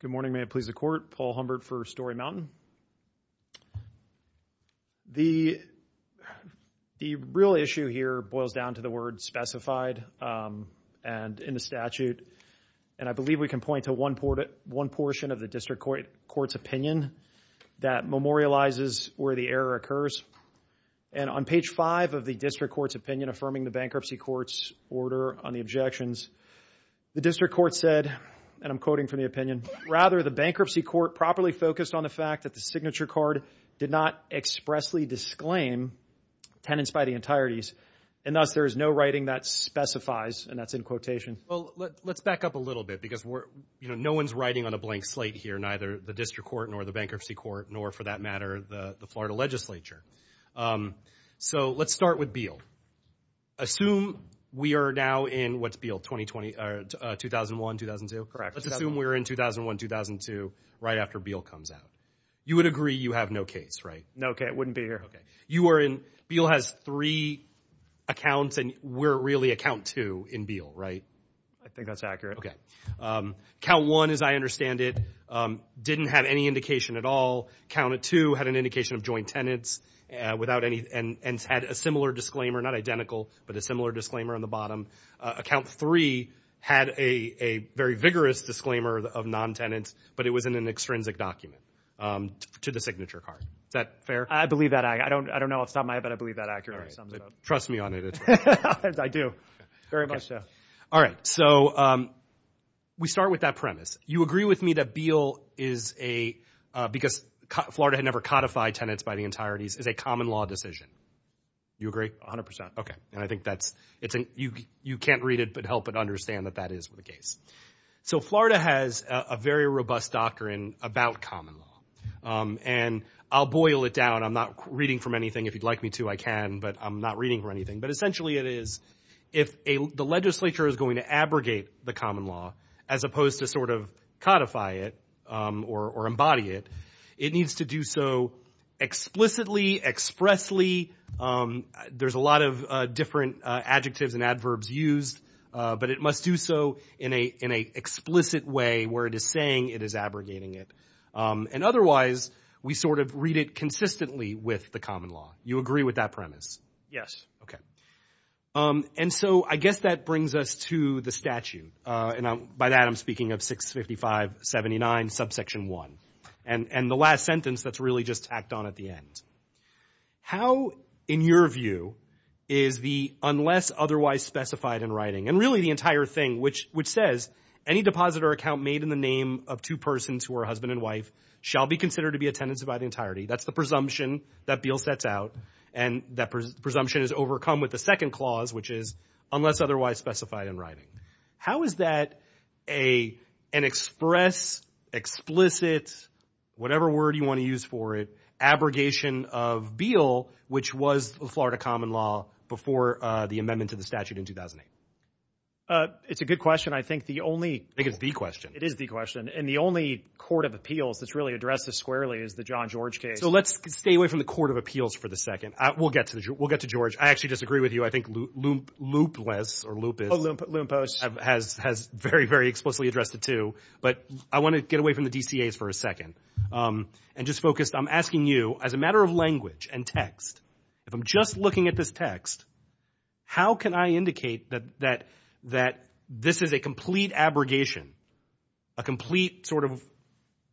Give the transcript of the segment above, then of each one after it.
Good morning, may it please the Court, Paul Humbert for Story Mountain. The real issue here boils down to the word specified and in the statute, and I believe we can point to one portion of the District Court's opinion that memorializes where the error occurs. And on page five of the District Court's opinion affirming the Bankruptcy Court's order on the objections, the District Court said, and I'm quoting from the opinion, rather the Bankruptcy Court properly focused on the fact that the signature card did not expressly disclaim tenants by the entireties, and thus there is no writing that specifies, and that's in quotation. Well, let's back up a little bit because we're, you know, no one's writing on a blank slate here, neither the District Court nor the Bankruptcy Court, nor for that matter the Florida Legislature. So, let's start with Beale. Assume we are now in, what's Beale, 2020, 2001, 2002? Correct. Let's assume we're in 2001, 2002, right after Beale comes out. You would agree you have no case, right? No case, wouldn't be here. You are in, Beale has three accounts, and we're really at count two in Beale, right? I think that's accurate. Okay. Count one, as I understand it, didn't have any indication at all. Count two had an indication of joint tenants and had a similar disclaimer, not identical, but a similar disclaimer on the bottom. Account three had a very vigorous disclaimer of non-tenants, but it was in an extrinsic document to the signature card. Is that fair? I believe that. I don't know off the top of my head, but I believe that accurately sums it up. Trust me on it. I do. Very much so. All right. So, we start with that premise. You agree with me that Beale is a, because Florida had never codified tenants by the entireties, is a common law decision. You agree? A hundred percent. Okay. And I think that's, you can't read it, but help it understand that that is the case. So Florida has a very robust doctrine about common law, and I'll boil it down. I'm not reading from anything. If you'd like me to, I can, but I'm not reading from anything. But essentially it is, if the legislature is going to abrogate the common law, as opposed to sort of codify it or embody it, it needs to do so explicitly, expressly. There's a lot of different adjectives and adverbs used, but it must do so in a explicit way where it is saying it is abrogating it. And otherwise, we sort of read it consistently with the common law. You agree with that premise? Yes. Okay. And so I guess that brings us to the statute, and by that I'm speaking of 655-79 subsection 1, and the last sentence that's really just tacked on at the end. How, in your view, is the unless otherwise specified in writing, and really the entire thing, which says, any deposit or account made in the name of two persons who are husband and wife shall be considered to be a tenant by the entirety. That's the presumption that Beal sets out, and that presumption is overcome with the second clause, which is unless otherwise specified in writing. How is that an express, explicit, whatever word you want to use for it, abrogation of Beal, which was the Florida common law before the amendment to the statute in 2008? It's a good question. I think the only- I think it's the question. It is the question. And the only court of appeals that's really addressed this squarely is the John George case. So let's stay away from the court of appeals for the second. We'll get to George. I actually disagree with you. I think Loopless, or Loop is- Oh, Loompost. Has very, very explicitly addressed it, too. But I want to get away from the DCAs for a second. And just focused, I'm asking you, as a matter of language and text, if I'm just looking at this text, how can I indicate that this is a complete abrogation, a complete sort of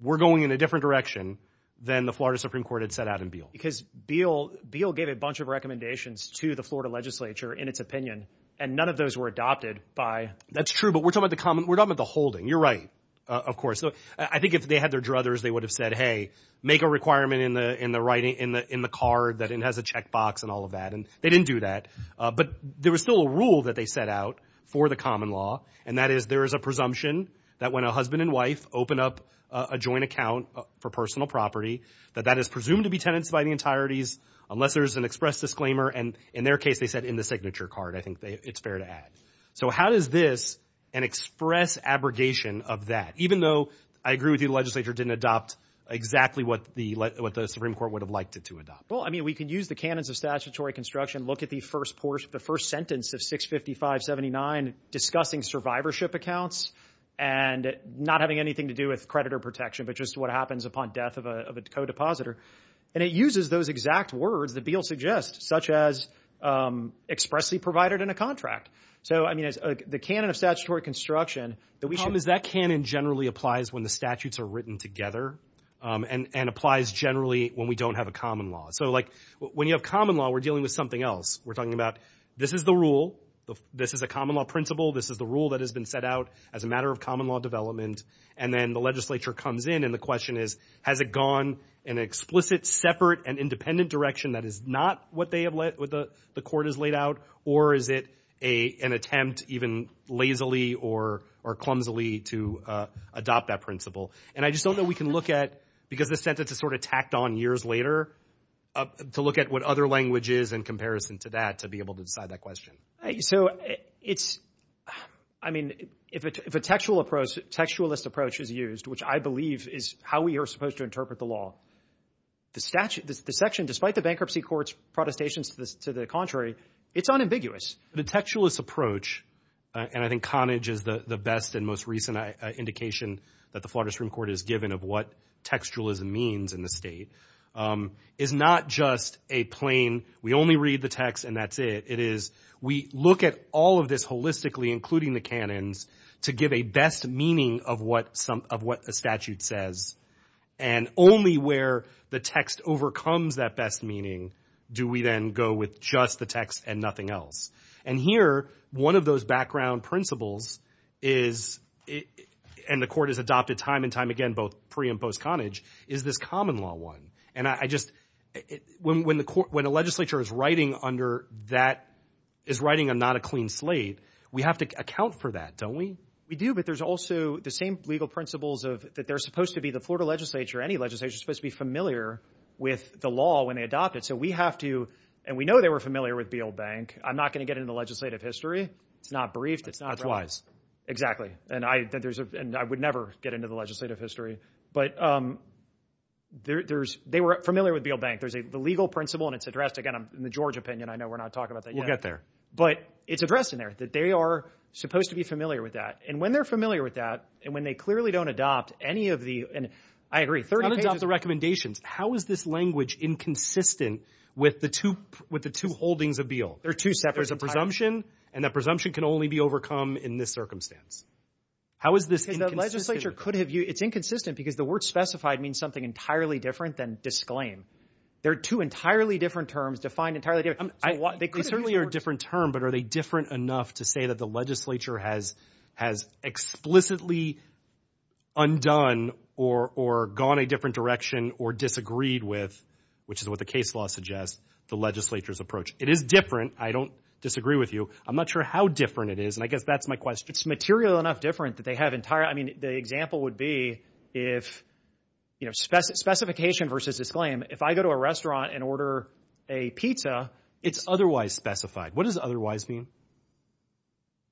we're going in a different direction than the Florida Supreme Court had set out in Beal? Because Beal gave a bunch of recommendations to the Florida legislature in its opinion. And none of those were adopted by- That's true. But we're talking about the common- We're talking about the holding. You're right, of course. I think if they had their druthers, they would have said, hey, make a requirement in the card that it has a checkbox and all of that. And they didn't do that. But there was still a rule that they set out for the common law. And that is there is a presumption that when a husband and wife open up a joint account for personal property, that that is presumed to be tenants by the entireties, unless there's an express disclaimer. And in their case, they said in the signature card. I think it's fair to add. So how does this, an express abrogation of that, even though I agree with you, the legislature didn't adopt exactly what the Supreme Court would have liked it to adopt? Well, I mean, we could use the canons of statutory construction, look at the first sentence of 655-79 discussing survivorship accounts and not having anything to do with creditor protection, but just what happens upon death of a co-depositor. And it uses those exact words that Beale suggests, such as expressly provided in a contract. So I mean, the canon of statutory construction that we should. Because that canon generally applies when the statutes are written together and applies generally when we don't have a common law. So like when you have common law, we're dealing with something else. We're talking about this is the rule. This is a common law principle. This is the rule that has been set out as a matter of common law development. And then the legislature comes in and the question is, has it gone in an explicit, separate and independent direction that is not what the court has laid out? Or is it an attempt even lazily or clumsily to adopt that principle? And I just don't know we can look at, because the sentence is sort of tacked on years later, to look at what other language is in comparison to that to be able to decide that question. So it's, I mean, if a textual approach, textualist approach is used, which I believe is how we are supposed to interpret the law, the statute, the section, despite the bankruptcy court's protestations to the contrary, it's unambiguous. The textualist approach, and I think Connage is the best and most recent indication that the Florida Supreme Court has given of what textualism means in the state, is not just a plain, we only read the text and that's it. It is, we look at all of this holistically, including the canons, to give a best meaning of what a statute says. And only where the text overcomes that best meaning do we then go with just the text and nothing else. And here, one of those background principles is, and the court has adopted time and time again both pre and post-Connage, is this common law one. And I just, when a legislature is writing under that, is writing on not a clean slate, we have to account for that, don't we? We do, but there's also the same legal principles of, that they're supposed to be, the Florida legislature, any legislature is supposed to be familiar with the law when they adopt it. So we have to, and we know they were familiar with Beale Bank. I'm not going to get into the legislative history. It's not briefed. That's wise. And I would never get into the legislative history. But there's, they were familiar with Beale Bank. There's the legal principle, and it's addressed, again, in the George opinion, I know we're not talking about that yet. We'll get there. But it's addressed in there, that they are supposed to be familiar with that. And when they're familiar with that, and when they clearly don't adopt any of the, and I agree, 30 pages. Don't adopt the recommendations. How is this language inconsistent with the two holdings of Beale? They're two separate entitlements. There's a presumption, and that presumption can only be overcome in this circumstance. How is this inconsistent? The legislature could have used, it's inconsistent because the word specified means something entirely different than disclaim. They're two entirely different terms, defined entirely different. They certainly are a different term, but are they different enough to say that the legislature has explicitly undone, or gone a different direction, or disagreed with, which is what the case law suggests, the legislature's approach. It is different. I don't disagree with you. I'm not sure how different it is, and I guess that's my question. It's material enough different that they have entire, I mean, the example would be if, you know, specification versus disclaim. If I go to a restaurant and order a pizza. It's otherwise specified. What does otherwise mean?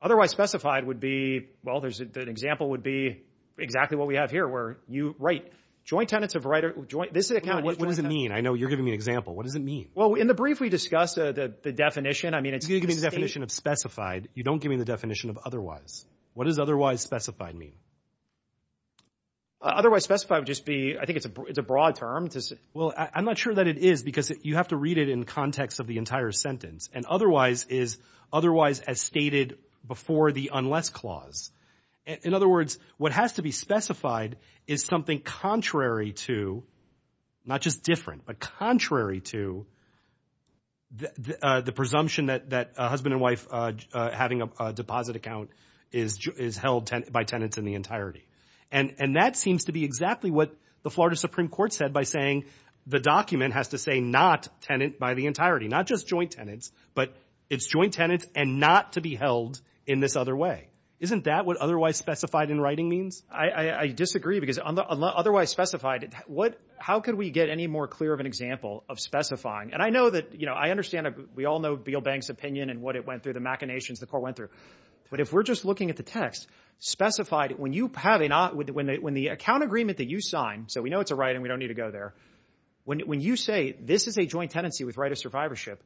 Otherwise specified would be, well, there's, an example would be exactly what we have here, where you write joint tenets of writer, joint, this is a count, what does it mean? I know you're giving me an example. What does it mean? Well, in the brief we discussed, the definition, I mean, it's the definition of specified. You don't give me the definition of otherwise. What does otherwise specified mean? Otherwise specified would just be, I think it's a broad term. Well, I'm not sure that it is, because you have to read it in context of the entire sentence, and otherwise is otherwise as stated before the unless clause. In other words, what has to be specified is something contrary to, not just different, but contrary to the presumption that a husband and wife having a deposit account is held by tenants in the entirety. And that seems to be exactly what the Florida Supreme Court said by saying the document has to say not tenant by the entirety, not just joint tenants, but it's joint tenants and not to be held in this other way. Isn't that what otherwise specified in writing means? I disagree, because otherwise specified, how could we get any more clear of an example of specifying? And I know that, you know, I understand, we all know Beale Bank's opinion and what it went through, the machinations the court went through. But if we're just looking at the text, specified, when you have a not, when the account agreement that you sign, so we know it's a right and we don't need to go there, when you say this is a joint tenancy with right of survivorship,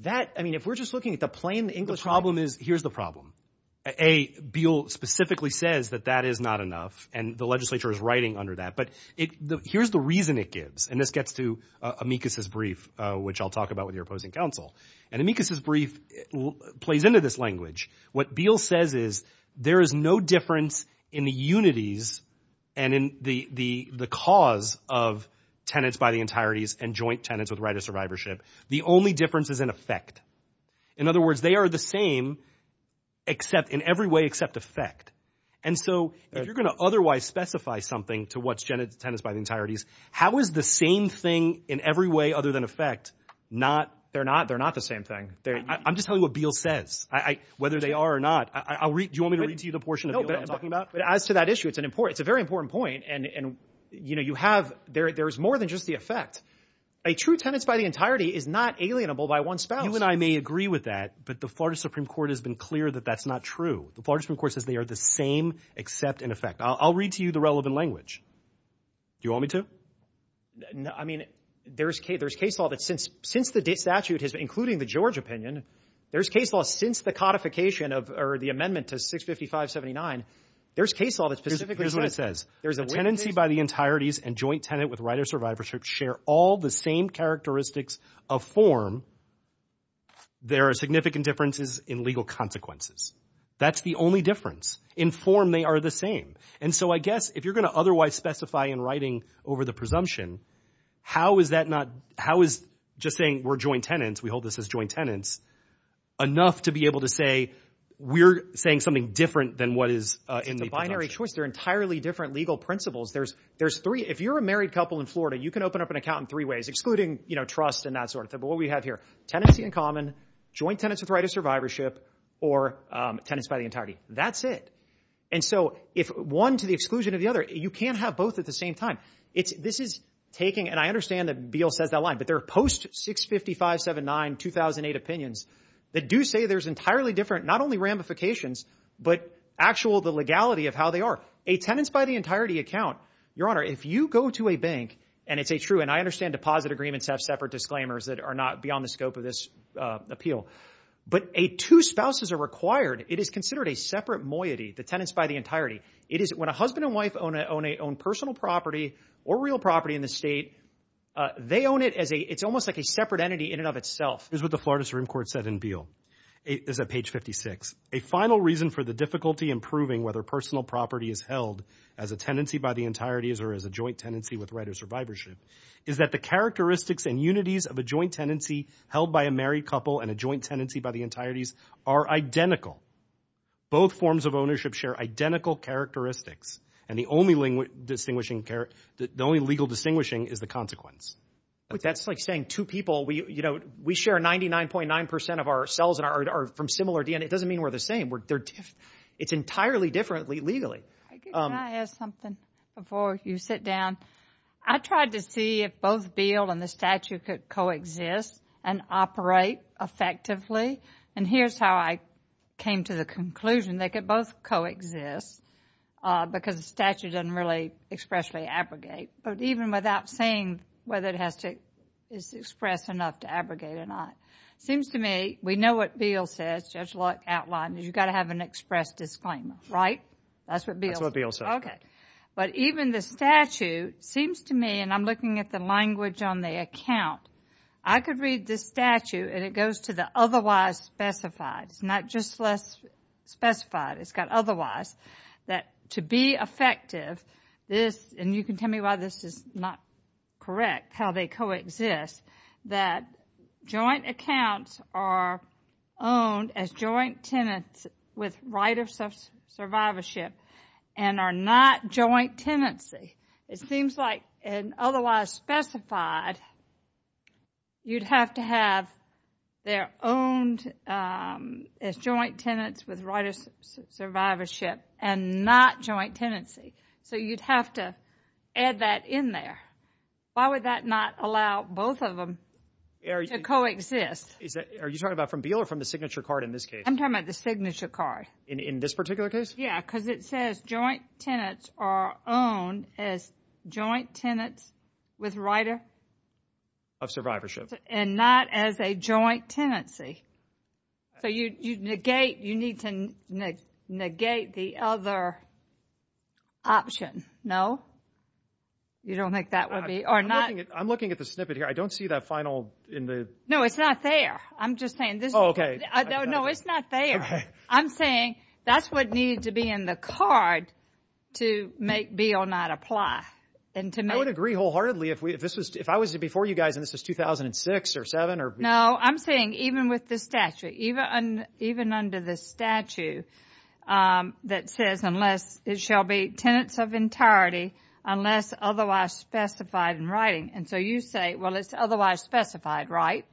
that, I mean, if we're just looking at the plain English. The problem is, here's the problem. A, Beale specifically says that that is not enough and the legislature is writing under that. But here's the reason it gives, and this gets to Amicus' brief, which I'll talk about with your opposing counsel. And Amicus' brief plays into this language. What Beale says is there is no difference in the unities and in the cause of tenants by the entireties and joint tenants with right of survivorship. The only difference is in effect. In other words, they are the same except in every way except effect. And so if you're going to otherwise specify something to what's tenants by the entireties, how is the same thing in every way other than effect, not, they're not, they're not the same thing. I'm just telling you what Beale says. Whether they are or not. Do you want me to read to you the portion of Beale that I'm talking about? As to that issue, it's an important, it's a very important point. And you know, you have, there's more than just the effect. A true tenants by the entirety is not alienable by one spouse. You and I may agree with that, but the Florida Supreme Court has been clear that that's not true. The Florida Supreme Court says they are the same except in effect. I'll read to you the relevant language. Do you want me to? No, I mean, there's case, there's case law that since, since the statute has been including the George opinion, there's case law since the codification of or the amendment to 655-79. There's case law that specifically says. Here's what it says. There's a way. A tenancy by the entireties and joint tenant with right of survivorship share all the same characteristics of form. There are significant differences in legal consequences. That's the only difference. In form, they are the same. And so I guess if you're going to otherwise specify in writing over the presumption, how is that not, how is just saying we're joint tenants, we hold this as joint tenants enough to be able to say we're saying something different than what is in the binary choice? They're entirely different legal principles. There's, there's three. If you're a married couple in Florida, you can open up an account in three ways, excluding, you know, trust and that sort of thing. But what we have here, tenancy in common, joint tenants with right of survivorship or tenants by the entirety, that's it. And so if one to the exclusion of the other, you can't have both at the same time. It's, this is taking, and I understand that Beal says that line, but there are post 655-79 2008 opinions that do say there's entirely different, not only ramifications, but actual the legality of how they are. A tenants by the entirety account, your honor, if you go to a bank and it's a true, and I understand deposit agreements have separate disclaimers that are not beyond the scope of this appeal, but a two spouses are required. It is considered a separate moiety, the tenants by the entirety. It is when a husband and wife own a own a own personal property or real property in the state. They own it as a, it's almost like a separate entity in and of itself is what the Florida Supreme Court said in Beal is that page 56, a final reason for the difficulty in proving whether personal property is held as a tendency by the entirety is, or as a joint tendency with writer survivorship is that the characteristics and unities of a joint tendency held by a married couple and a joint tendency by the entireties are identical. Both forms of ownership share identical characteristics. And the only distinguishing care, the only legal distinguishing is the consequence. That's like saying to people, we, you know, we share 99.9% of ourselves and are from similar DNA. It doesn't mean we're the same. We're, they're, it's entirely differently legally. Can I ask something before you sit down? I tried to see if both Beal and the statute could coexist and operate effectively. And here's how I came to the conclusion. They could both coexist because the statute doesn't really expressly abrogate, but even without saying whether it has to express enough to abrogate or not, it seems to me, we know what Beal says, Judge Locke outlined, is you got to have an express disclaimer, right? That's what Beal said. Okay. But even the statute seems to me, and I'm looking at the language on the account, I could read this statute and it goes to the otherwise specified. It's not just less specified, it's got otherwise. That to be effective, this, and you can tell me why this is not correct, how they coexist, that joint accounts are owned as joint tenants with right of survivorship and are not joint tenancy. It seems like an otherwise specified, you'd have to have their owned as joint tenants with right of survivorship and not joint tenancy. So you'd have to add that in there. Why would that not allow both of them to coexist? Are you talking about from Beal or from the signature card in this case? I'm talking about the signature card. In this particular case? Yeah, because it says joint tenants are owned as joint tenants with right of survivorship and not as a joint tenancy. So you negate, you need to negate the other option. No? You don't think that would be, or not? I'm looking at the snippet here. I don't see that final in the... No, it's not there. I'm just saying this... Oh, okay. No, it's not there. I'm saying that's what needed to be in the card to make Beal not apply. And to make... I would agree wholeheartedly if I was before you guys and this was 2006 or 7 or... No, I'm saying even with the statute, even under the statute that says unless it shall be tenants of entirety unless otherwise specified in writing. And so you say, well, it's otherwise specified, right?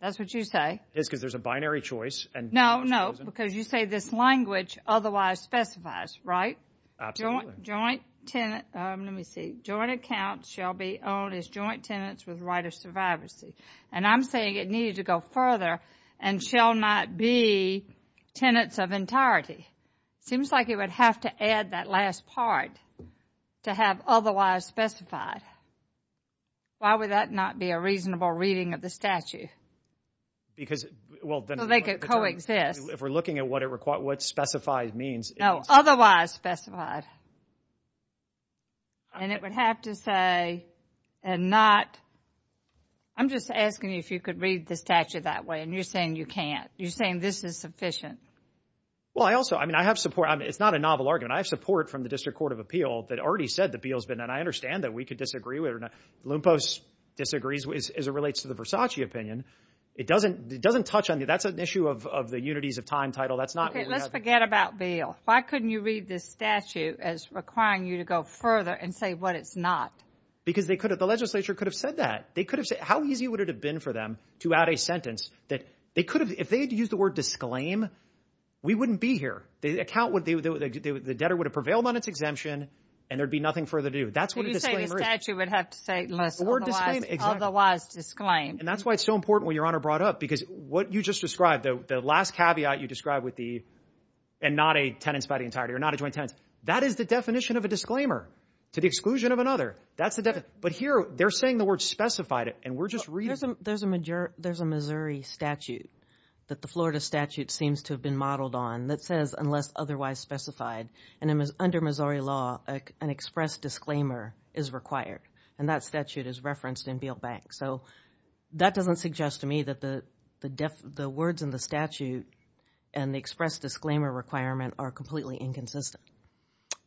That's what you say. It's because there's a binary choice and... No, no, because you say this language otherwise specifies, right? Absolutely. Joint tenant, let me see, joint account shall be owned as joint tenants with right of survivorship. And I'm saying it needed to go further and shall not be tenants of entirety. Seems like it would have to add that last part to have otherwise specified. Why would that not be a reasonable reading of the statute? Because... Well, then... So they could coexist. If we're looking at what it requires... What specified means... No, otherwise specified. And it would have to say and not... I'm just asking you if you could read the statute that way and you're saying you can't. You're saying this is sufficient. Well, I also... I mean, I have support. I mean, it's not a novel argument. I have support from the District Court of Appeal that already said that Beal's been... And I understand that we could disagree with it or not. Lumpos disagrees as it relates to the Versace opinion. It doesn't touch on... That's an issue of the unities of time title. That's not what we have... Okay, let's forget about Beal. Why couldn't you read this statute as requiring you to go further and say what it's not? Because they could have... The legislature could have said that. They could have said... How easy would it have been for them to add a sentence that they could have... If they had used the word disclaim, we wouldn't be here. The account would... The debtor would have prevailed on its exemption and there'd be nothing further to do. That's what a disclaimer is. So you're saying the statute would have to say unless otherwise... Or disclaim. Exactly. Otherwise disclaim. And that's why it's so important when Your Honor brought up because what you just described, the last caveat you described with the... And not a tenants by the entirety or not a joint tenants. That is the definition of a disclaimer to the exclusion of another. That's the definition. But here, they're saying the word specified it and we're just reading it. There's a Missouri statute that the Florida statute seems to have been modeled on that says unless otherwise specified and under Missouri law, an express disclaimer is required. And that statute is referenced in Beale Bank. So that doesn't suggest to me that the words in the statute and the express disclaimer requirement are completely inconsistent.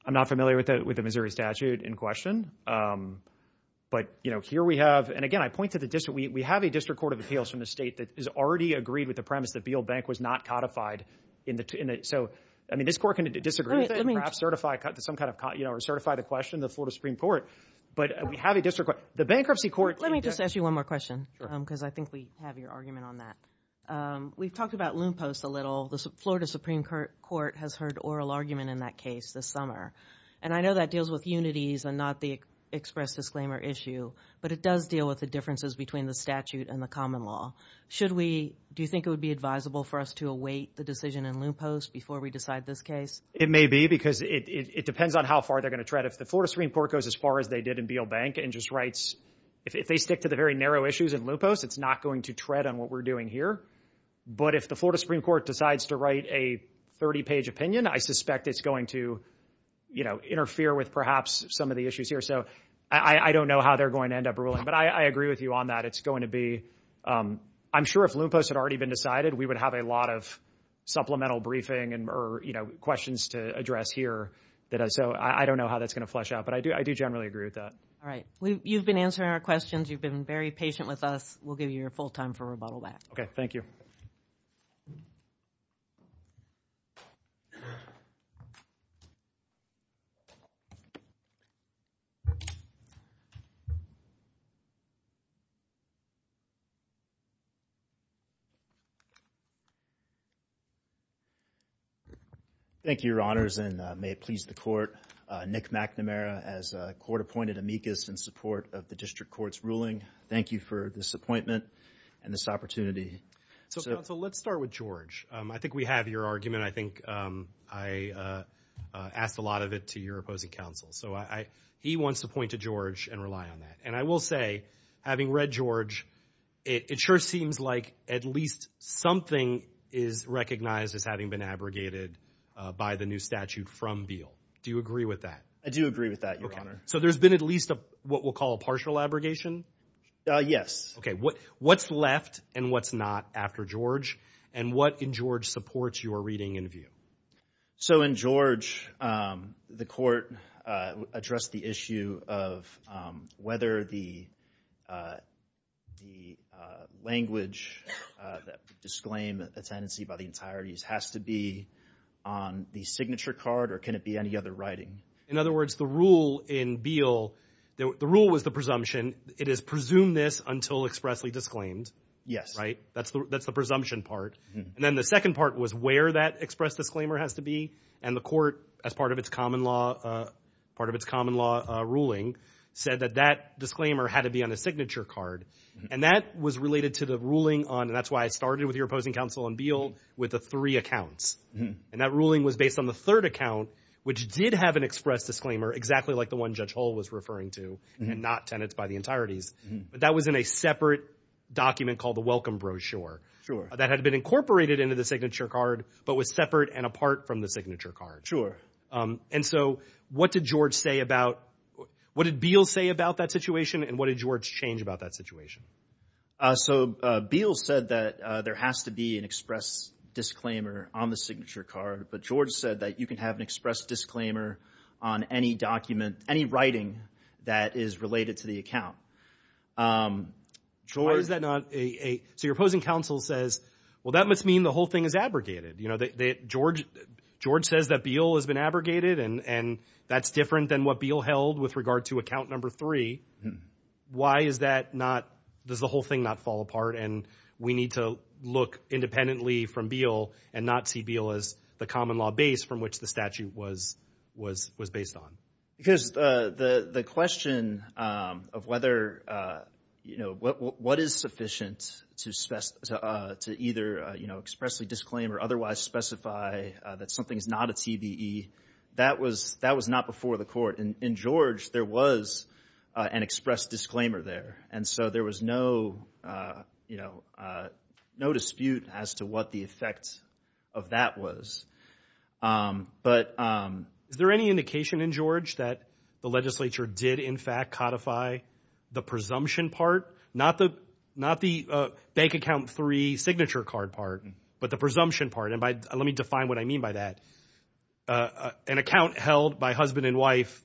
I'm not familiar with the Missouri statute in question. But, you know, here we have... And again, I point to the district... We have a district court of appeals from the state that has already agreed with the premise that Beale Bank was not codified in the... So, I mean, this court can disagree with it and perhaps certify some kind of... You know, or certify the question, the Florida Supreme Court. But we have a district court... The bankruptcy court... Let me just ask you one more question. Sure. Because I think we have your argument on that. We've talked about loom posts a little. The Florida Supreme Court has heard oral argument in that case this summer. And I know that deals with unities and not the express disclaimer issue. But it does deal with the differences between the statute and the common law. Should we... Do you think it would be advisable for us to await the decision in loom posts before we decide this case? It may be because it depends on how far they're going to tread. If the Florida Supreme Court goes as far as they did in Beale Bank and just writes... If they stick to the very narrow issues in loom posts, it's not going to tread on what we're doing here. But if the Florida Supreme Court decides to write a 30-page opinion, I suspect it's going to interfere with, perhaps, some of the issues here. So I don't know how they're going to end up ruling. But I agree with you on that. It's going to be... I'm sure if loom posts had already been decided, we would have a lot of supplemental briefing or questions to address here. So I don't know how that's going to flesh out. But I do generally agree with that. All right. You've been answering our questions. You've been very patient with us. We'll give you your full time for rebuttal back. Okay. Thank you. Thank you. And may it please the court, Nick McNamara, as a court-appointed amicus in support of the district court's ruling, thank you for this appointment and this opportunity. So counsel, let's start with George. I think we have your argument. I think I asked a lot of it to your opposing counsel. So he wants to point to George and rely on that. And I will say, having read George, it sure seems like at least something is recognized as having been abrogated by the new statute from Beale. Do you agree with that? I do agree with that, Your Honor. So there's been at least what we'll call a partial abrogation? Yes. Okay. What's left and what's not after George? And what in George supports your reading and view? So in George, the court addressed the issue of whether the language that would disclaim a tenancy by the entireties has to be on the signature card or can it be any other writing? In other words, the rule in Beale, the rule was the presumption, it is presumed this until expressly disclaimed. Yes. Right? That's the presumption part. And then the second part was where that express disclaimer has to be. And the court, as part of its common law ruling, said that that disclaimer had to be on a signature card. And that was related to the ruling on, and that's why I started with your opposing counsel on Beale, with the three accounts. And that ruling was based on the third account, which did have an express disclaimer, exactly like the one Judge Hull was referring to, and not tenants by the entireties. But that was in a separate document called the welcome brochure that had been incorporated into the signature card, but was separate and apart from the signature card. And so what did Beale say about that situation and what did George change about that situation? So Beale said that there has to be an express disclaimer on the signature card, but George said that you can have an express disclaimer on any document, any writing that is related to the account. Why is that not a, so your opposing counsel says, well, that must mean the whole thing is abrogated. You know, George says that Beale has been abrogated and that's different than what Beale held with regard to account number three. Why is that not, does the whole thing not fall apart and we need to look independently from Beale and not see Beale as the common law base from which the statute was based on? Because the question of whether, you know, what is sufficient to either expressly disclaim or otherwise specify that something is not a TBE, that was not before the court. In George, there was an express disclaimer there. And so there was no, you know, no dispute as to what the effect of that was. But is there any indication in George that the legislature did, in fact, codify the presumption part, not the bank account three signature card part, but the presumption part? And let me define what I mean by that. An account held by husband and wife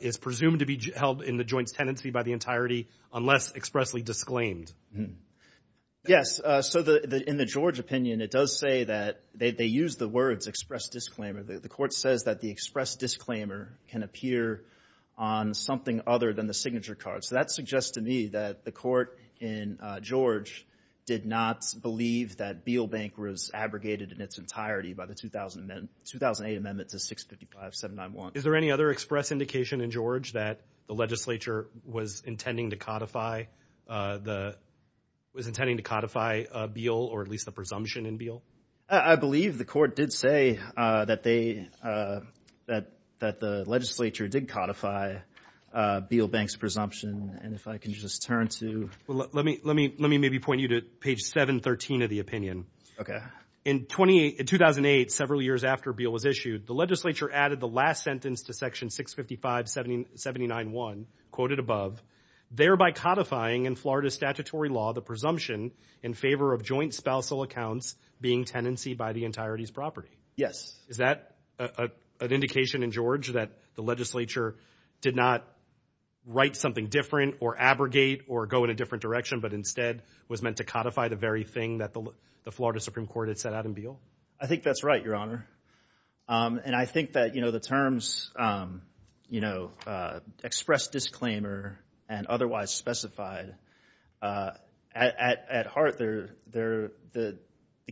is presumed to be held in the joint tenancy by the entirety unless expressly disclaimed. Yes. So, in the George opinion, it does say that they use the words express disclaimer. The court says that the express disclaimer can appear on something other than the signature card. So, that suggests to me that the court in George did not believe that Beale Bank was abrogated in its entirety by the 2008 amendment to 655-791. Is there any other express indication in George that the legislature was intending to codify the, was intending to codify Beale or at least the presumption in Beale? I believe the court did say that they, that the legislature did codify Beale Bank's presumption. And if I can just turn to. Let me maybe point you to page 713 of the opinion. Okay. In 2008, several years after Beale was issued, the legislature added the last sentence to section 655-791, quoted above, thereby codifying in Florida statutory law the presumption in favor of joint spousal accounts being tenancy by the entirety's property. Yes. Is that an indication in George that the legislature did not write something different or abrogate or go in a different direction, but instead was meant to codify the very thing that the Florida Supreme Court had set out in Beale? I think that's right, Your Honor. And I think that, you know, the terms, you know, express disclaimer and otherwise specified, at heart, the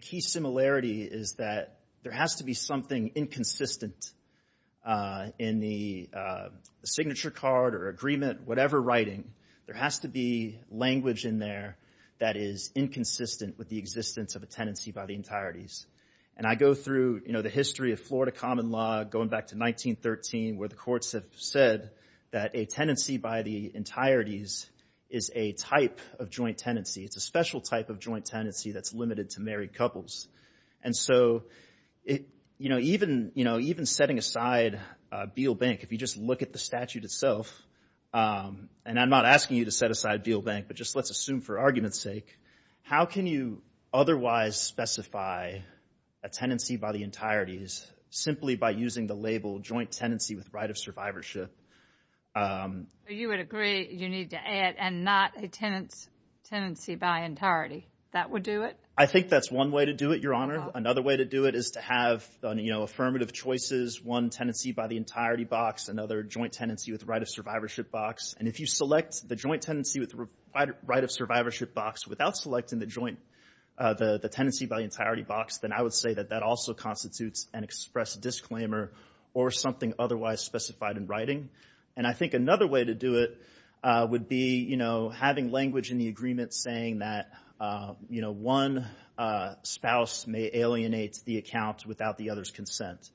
key similarity is that there has to be something inconsistent in the signature card or agreement, whatever writing, there has to be language in there that is inconsistent with the existence of a tenancy by the entirety's. And I go through, you know, the history of Florida common law, going back to 1913, where the courts have said that a tenancy by the entirety's is a type of joint tenancy. It's a special type of joint tenancy that's limited to married couples. And so, you know, even, you know, even setting aside Beale Bank, if you just look at the statute itself, and I'm not asking you to set aside Beale Bank, but just let's assume for argument's sake, how can you otherwise specify a tenancy by the entirety's simply by using the label joint tenancy with right of survivorship? You would agree you need to add and not a tenancy by entirety. That would do it? I think that's one way to do it, Your Honor. Another way to do it is to have, you know, affirmative choices, one tenancy by the entirety box, another joint tenancy with right of survivorship box. And if you select the joint tenancy with the right of survivorship box without selecting the joint, the tenancy by the entirety box, then I would say that that also constitutes an express disclaimer or something otherwise specified in writing. And I think another way to do it would be, you know, having language in the agreement saying that, you know, one spouse may alienate the account without the other's consent.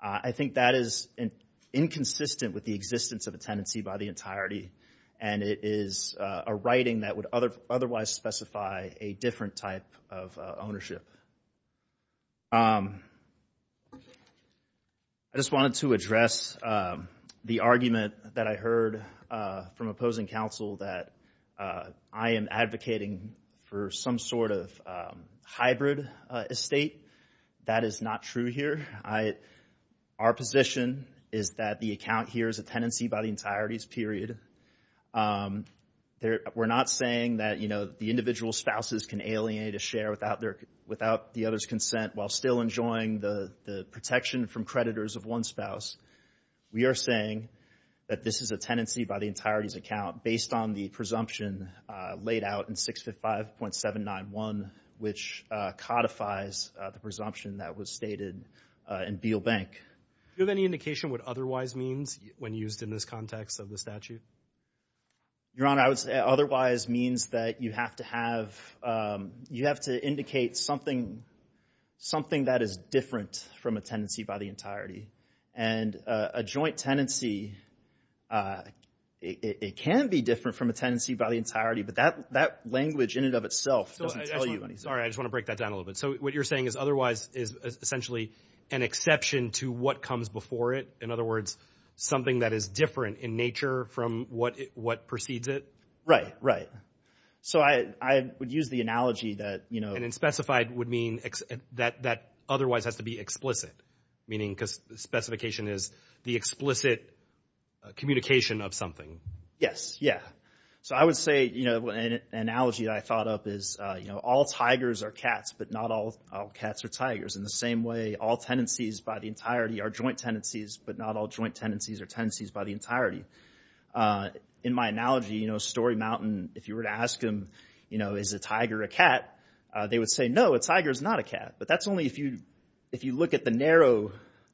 I think that is inconsistent with the existence of a tenancy by the entirety. And it is a writing that would otherwise specify a different type of ownership. I just wanted to address the argument that I heard from opposing counsel that I am advocating for some sort of hybrid estate. That is not true here. Our position is that the account here is a tenancy by the entirety's period. We're not saying that, you know, the individual spouses can alienate a share without the other's consent while still enjoying the protection from creditors of one spouse. We are saying that this is a tenancy by the entirety's account based on the presumption laid out in 65.791, which codifies the presumption that was stated in Beal Bank. Do you have any indication what otherwise means when used in this context of the statute? Your Honor, I would say otherwise means that you have to have, you have to indicate something that is different from a tenancy by the entirety. And a joint tenancy, it can be different from a tenancy by the entirety, but that language in and of itself doesn't tell you. Sorry, I just want to break that down a little bit. So what you're saying is otherwise is essentially an exception to what comes before it. In other words, something that is different in nature from what precedes it? Right, right. So I would use the analogy that, you know... And in specified would mean that otherwise has to be explicit. Meaning, because the specification is the explicit communication of something. Yes, yeah. So I would say, you know, an analogy I thought up is, you know, all tigers are cats, but not all cats are tigers. In the same way, all tenancies by the entirety are joint tenancies, but not all joint tenancies are tenancies by the entirety. In my analogy, you know, Story Mountain, if you were to ask him, you know, is a tiger a cat? They would say, no, a tiger is not a cat. But that's only if you look at the narrow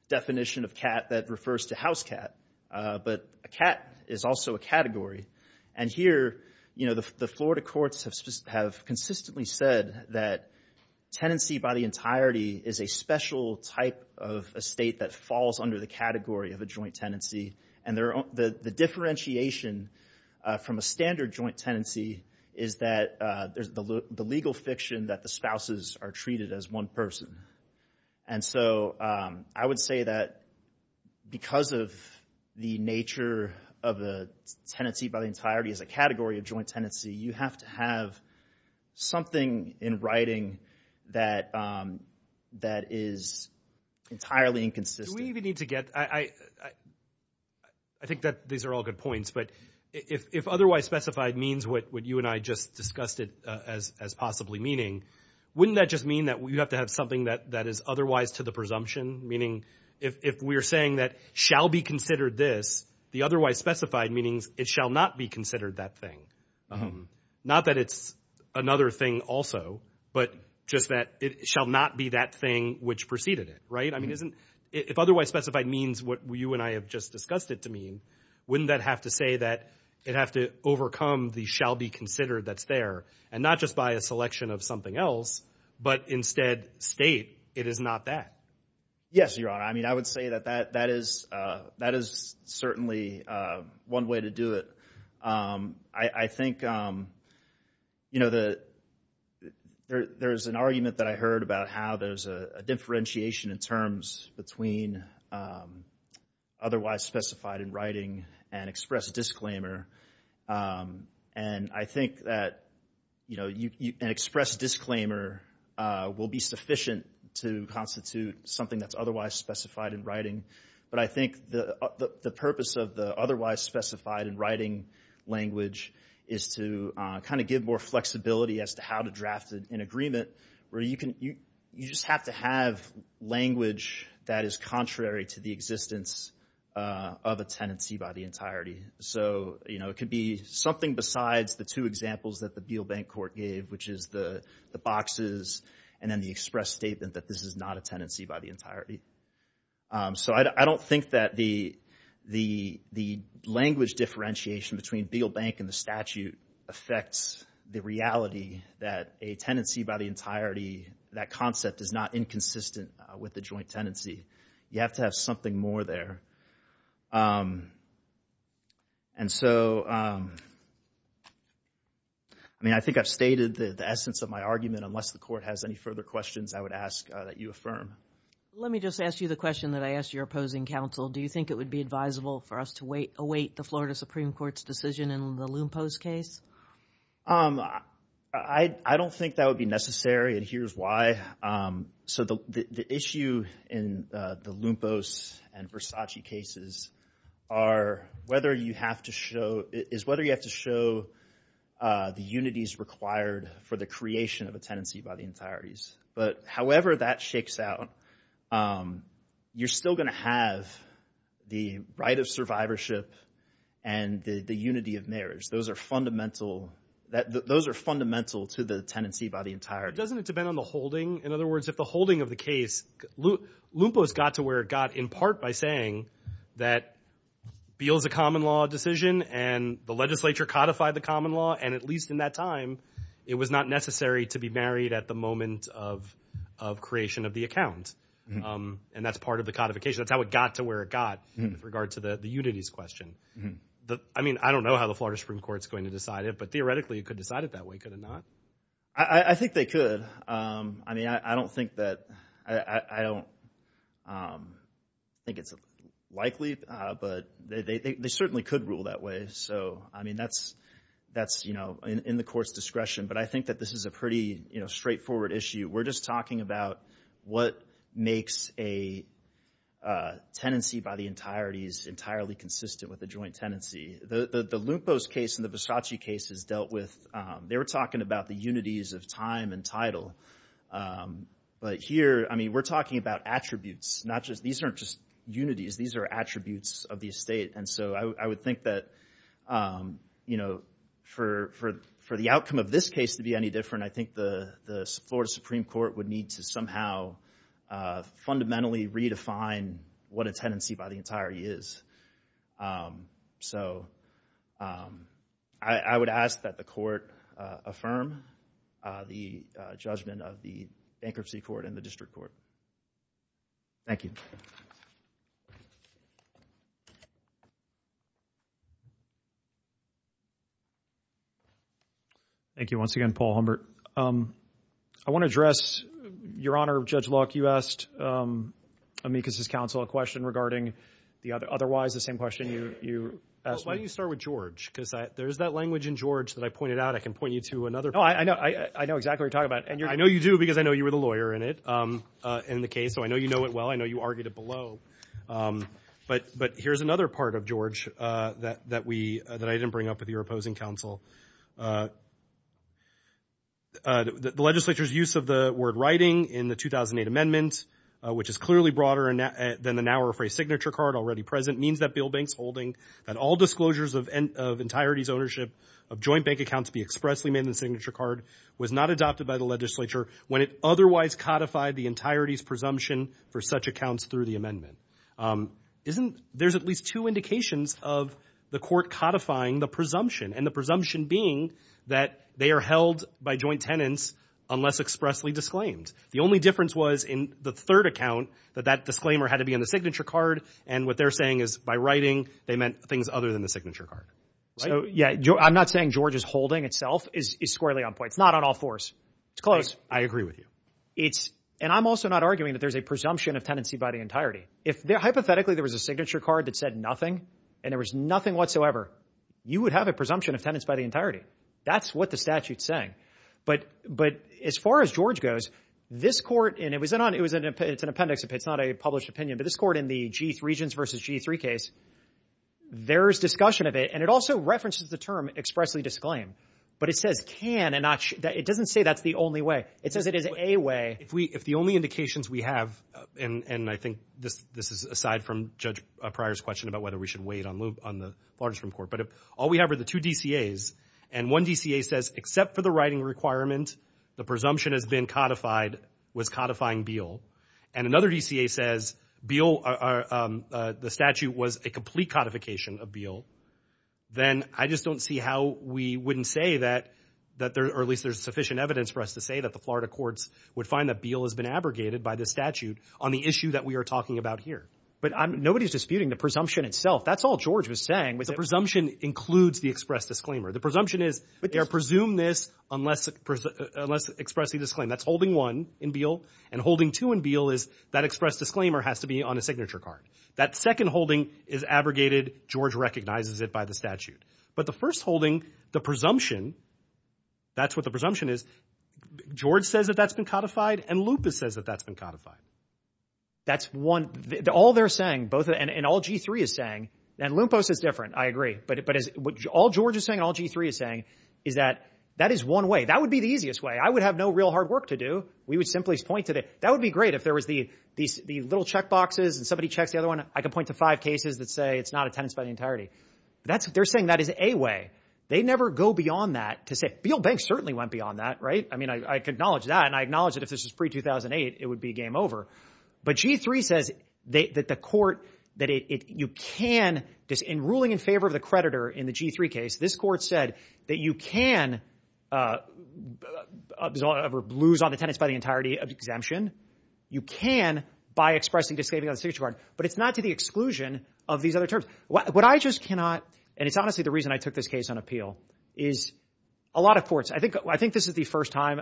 definition of cat that refers to house cat. But a cat is also a category. And here, you know, the Florida courts have consistently said that tenancy by the entirety is a special type of estate that falls under the category of a joint tenancy. And the differentiation from a standard joint tenancy is that there's the legal fiction that the spouses are treated as one person. And so I would say that because of the nature of the tenancy by the entirety is a category of joint tenancy, you have to have something in writing that is entirely inconsistent. Do we even need to get, I think that these are all good points, but if otherwise specified means what you and I just discussed it as possibly meaning, wouldn't that just mean that you have to have something that is otherwise to the presumption? Meaning if we're saying that shall be considered this, the otherwise specified meanings it shall not be considered that thing. Not that it's another thing also, but just that it shall not be that thing which preceded it, right? I mean, if otherwise specified means what you and I have just discussed it to mean, wouldn't that have to say that it have to overcome the shall be considered that's there and not just by a selection of something else, but instead state it is not that? Yes, Your Honor. I mean, I would say that that is certainly one way to do it. I think, you know, there's an argument that I heard about how there's a differentiation in terms between otherwise specified in writing and express disclaimer. And I think that, you know, an express disclaimer will be sufficient to constitute something that's otherwise specified in writing, but I think the purpose of the otherwise specified in writing language is to kind of give more flexibility as to how to draft an agreement where you just have to have language that is contrary to the existence of a tenancy by the entirety. So, you know, it could be something besides the two examples that the Beal Bank Court gave, which is the boxes and then the express statement that this is not a tenancy by the entirety. So I don't think that the language differentiation between Beal Bank and the statute affects the reality that a tenancy by the entirety, that concept is not inconsistent with the joint tenancy. You have to have something more there. And so, I mean, I think I've stated the essence of my argument. Unless the court has any further questions, I would ask that you affirm. Let me just ask you the question that I asked your opposing counsel. Do you think it would be advisable for us to await the Florida Supreme Court's decision in the Lumpos case? I don't think that would be necessary, and here's why. So the issue in the Lumpos and Versace cases are whether you have to show, is whether you have to show the unities required for the creation of a tenancy by the entireties. But however that shakes out, you're still going to have the right of survivorship and the unity of marriage. Those are fundamental to the tenancy by the entirety. Doesn't it depend on the holding? In other words, if the holding of the case, Lumpos got to where it got in part by saying that Beal's a common law decision and the legislature codified the common law, and at least in that time, it was not necessary to be married at the moment of creation of the account. And that's part of the codification. That's how it got to where it got with regard to the unities question. I mean, I don't know how the Florida Supreme Court's going to decide it, but theoretically, it could decide it that way, could it not? I think they could. I mean, I don't think that, I don't think it's likely, but they certainly could rule that way. I mean, that's in the court's discretion, but I think that this is a pretty straightforward issue. We're just talking about what makes a tenancy by the entirety's entirely consistent with a joint tenancy. The Lumpos case and the Visacci case is dealt with, they were talking about the unities of time and title. But here, I mean, we're talking about attributes, not just, these aren't just unities, these are attributes of the estate. And so I would think that, you know, for the outcome of this case to be any different, I think the Florida Supreme Court would need to somehow fundamentally redefine what a tenancy by the entirety is. So I would ask that the court affirm the judgment of the bankruptcy court and the district court. Thank you. Thank you. Thank you once again, Paul Humbert. I want to address, Your Honor, Judge Locke, you asked Amicus's counsel a question regarding the other, otherwise the same question you asked me. Why don't you start with George, because there's that language in George that I pointed out, I can point you to another. No, I know exactly what you're talking about. I know you do because I know you were the lawyer in it, in the case, so I know you know it well, I know you argued it below. But here's another part of George that we, that I didn't bring up with your opposing counsel. The legislature's use of the word writing in the 2008 amendment, which is clearly broader than the now rephrased signature card already present, means that Bill Banks holding that all disclosures of entirety's ownership of joint bank accounts be expressly made in the signature card was not adopted by the legislature when it otherwise codified the entirety's presumption for such accounts through the amendment. Isn't, there's at least two indications of the court codifying the presumption, and the presumption being that they are held by joint tenants unless expressly disclaimed. The only difference was in the third account that that disclaimer had to be in the signature card, and what they're saying is by writing, they meant things other than the signature card. So yeah, I'm not saying George's holding itself is squarely on point. It's not on all fours. It's close. I agree with you. And I'm also not arguing that there's a presumption of tenancy by the entirety. If hypothetically there was a signature card that said nothing, and there was nothing whatsoever, you would have a presumption of tenants by the entirety. That's what the statute's saying. But as far as George goes, this court, and it's an appendix, it's not a published opinion, but this court in the Regents v. G3 case, there's discussion of it, and it also references the term expressly disclaimed, but it says can and not should. It doesn't say that's the only way. It says it is a way. If the only indications we have, and I think this is aside from Judge Pryor's question about whether we should wait on the large-form court, but all we have are the two DCAs, and one DCA says except for the writing requirement, the presumption has been codified, was codifying Beall, and another DCA says Beall, the statute was a complete codification of Beall, then I just don't see how we wouldn't say that, or at least there's sufficient evidence for us to say that the Florida courts would find that Beall has been abrogated by the statute on the issue that we are talking about here. But nobody's disputing the presumption itself. That's all George was saying. The presumption includes the express disclaimer. The presumption is they're presumed this unless expressly disclaimed. That's holding one in Beall, and holding two in Beall is that express disclaimer has to be on a signature card. That second holding is abrogated. George recognizes it by the statute. But the first holding, the presumption, that's what the presumption is. George says that that's been codified, and Lupus says that that's been codified. That's one. All they're saying, and all G3 is saying, and Lupus is different, I agree, but all George is saying and all G3 is saying is that that is one way. That would be the easiest way. I would have no real hard work to do. We would simply point to that. That would be great if there was these little checkboxes and somebody checks the other one. I could point to five cases that say it's not a tenancy by the entirety. They're saying that is a way. They never go beyond that to say Beall Bank certainly went beyond that. I acknowledge that, and I acknowledge that if this was pre-2008, it would be game over. But G3 says that the court that you can, in ruling in favor of the creditor in the G3 case, this court said that you can lose on the tenants by the entirety of the exemption. You can by expressing disclaiming of the signature card. But it's not to the exclusion of these other terms. What I just cannot, and it's honestly the reason I took this case on appeal, is a lot of courts, I think this is the first time,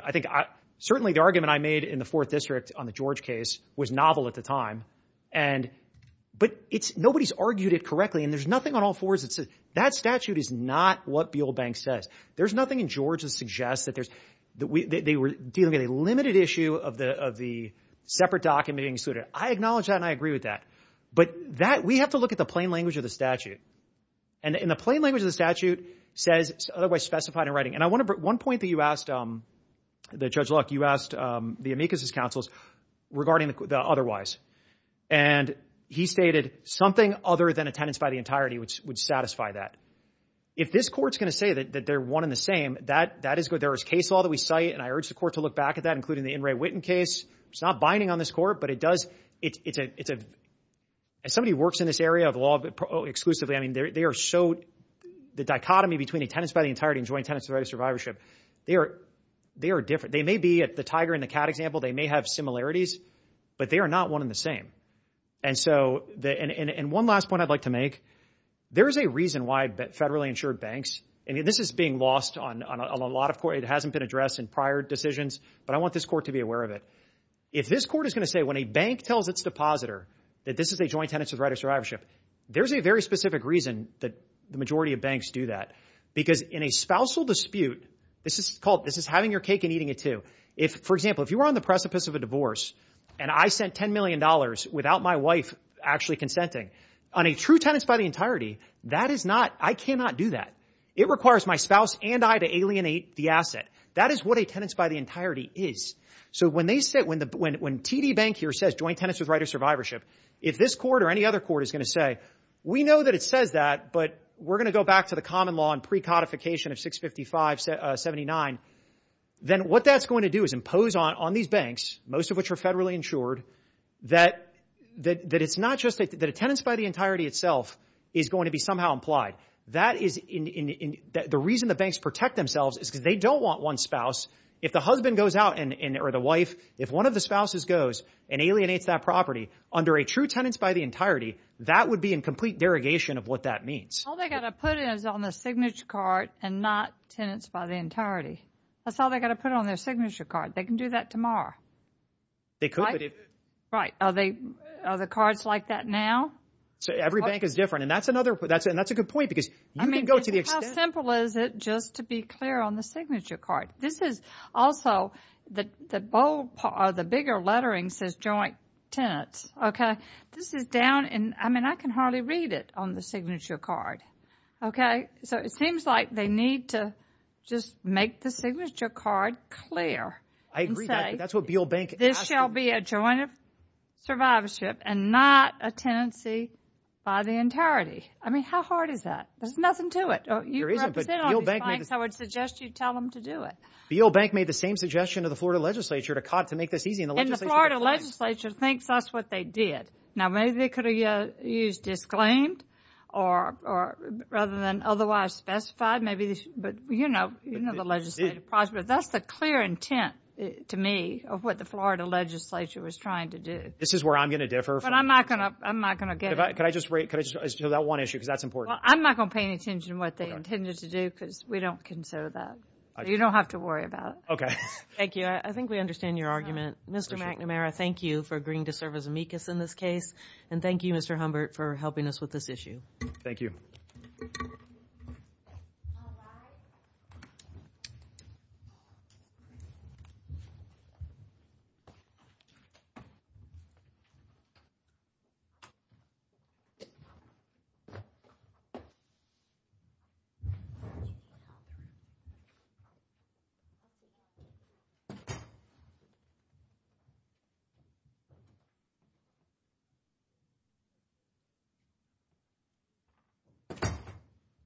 certainly the argument I made in the 4th District on the George case was novel at the time. But nobody's argued it correctly, and there's nothing on all fours that says that statute is not what Beall Bank says. There's nothing in George that suggests that they were dealing with a limited issue of the separate document being excluded. I acknowledge that, and I agree with that. But we have to look at the plain language of the statute. And the plain language of the statute says, otherwise specified in writing. And I wonder, one point that you asked Judge Luck, you asked the amicus's counsels regarding the otherwise. And he stated, something other than a tenants by the entirety would satisfy that. If this court's going to say that they're one and the same, that is good. There is case law that we cite, and I urge the court to look back at that, including the In re Witten case. It's not binding on this court, but it does, as somebody who works in this area of law exclusively, they are so, the dichotomy between a tenants by the entirety and joint tenants by the right of survivorship, they are different. They may be at the tiger and the cat example, they may have similarities, but they are not one and the same. And so, one last point I'd like to make, there is a reason why federally insured banks, and this is being lost on a lot of court, it hasn't been addressed in prior decisions, but I want this court to be aware of it. If this court is going to say when a bank tells its depositor that this is a joint tenants with right of survivorship, there's a very specific reason that the majority of banks do that. Because in a spousal dispute, this is called, this is having your cake and eating it too. If, for example, if you were on the precipice of a divorce, and I sent $10 million without my wife actually consenting, on a true tenants by the entirety, that is not, I cannot do that. It requires my spouse and I to alienate the asset. That is what a tenants by the entirety is. So when they say, when TD Bank here says joint tenants with right of survivorship, if this court or any other court is going to say, we know that it says that, but we're going to go back to the common law and pre-codification of 655-79, then what that's going to do is impose on these banks, most of which are federally insured, that it's not just that a tenants by the entirety itself is going to be somehow implied. That is, the reason the banks protect themselves is because they don't want one spouse. If the husband goes out, or the wife, if one of the spouses goes and alienates that property under a true tenants by the entirety, that would be in complete derogation of what that means. All they've got to put in is on the signature card and not tenants by the entirety. That's all they've got to put on their signature card. They can do that tomorrow. Are the cards like that now? Every bank is different, and that's a good point because you can go to the extent... How simple is it just to be clear on the signature card? This is also the bold part, the bigger lettering says joint tenants. This is down in... I can hardly read it on the signature card. It seems like they need to just make the signature card clear and say, this shall be a joint survivorship and not a tenancy by the entirety. How hard is that? There's nothing to it. I would suggest you tell them to do it. B.O. Bank made the same suggestion to the Florida legislature to make this easy. The Florida legislature thinks that's what they did. Maybe they could have used disclaimed rather than otherwise specified. You know the legislative process. That's the clear intent, to me, of what the Florida legislature was trying to do. This is where I'm going to differ. I'm not going to get into it. Can I just raise that one issue? That's important. I'm not going to pay any attention to what they intended to do because we don't consider that. You don't have to worry about it. Thank you. I think we understand your argument. Mr. McNamara, thank you for agreeing to serve as amicus in this case. Thank you, Mr. Humbert, for helping us with this issue. Thank you. Thank you.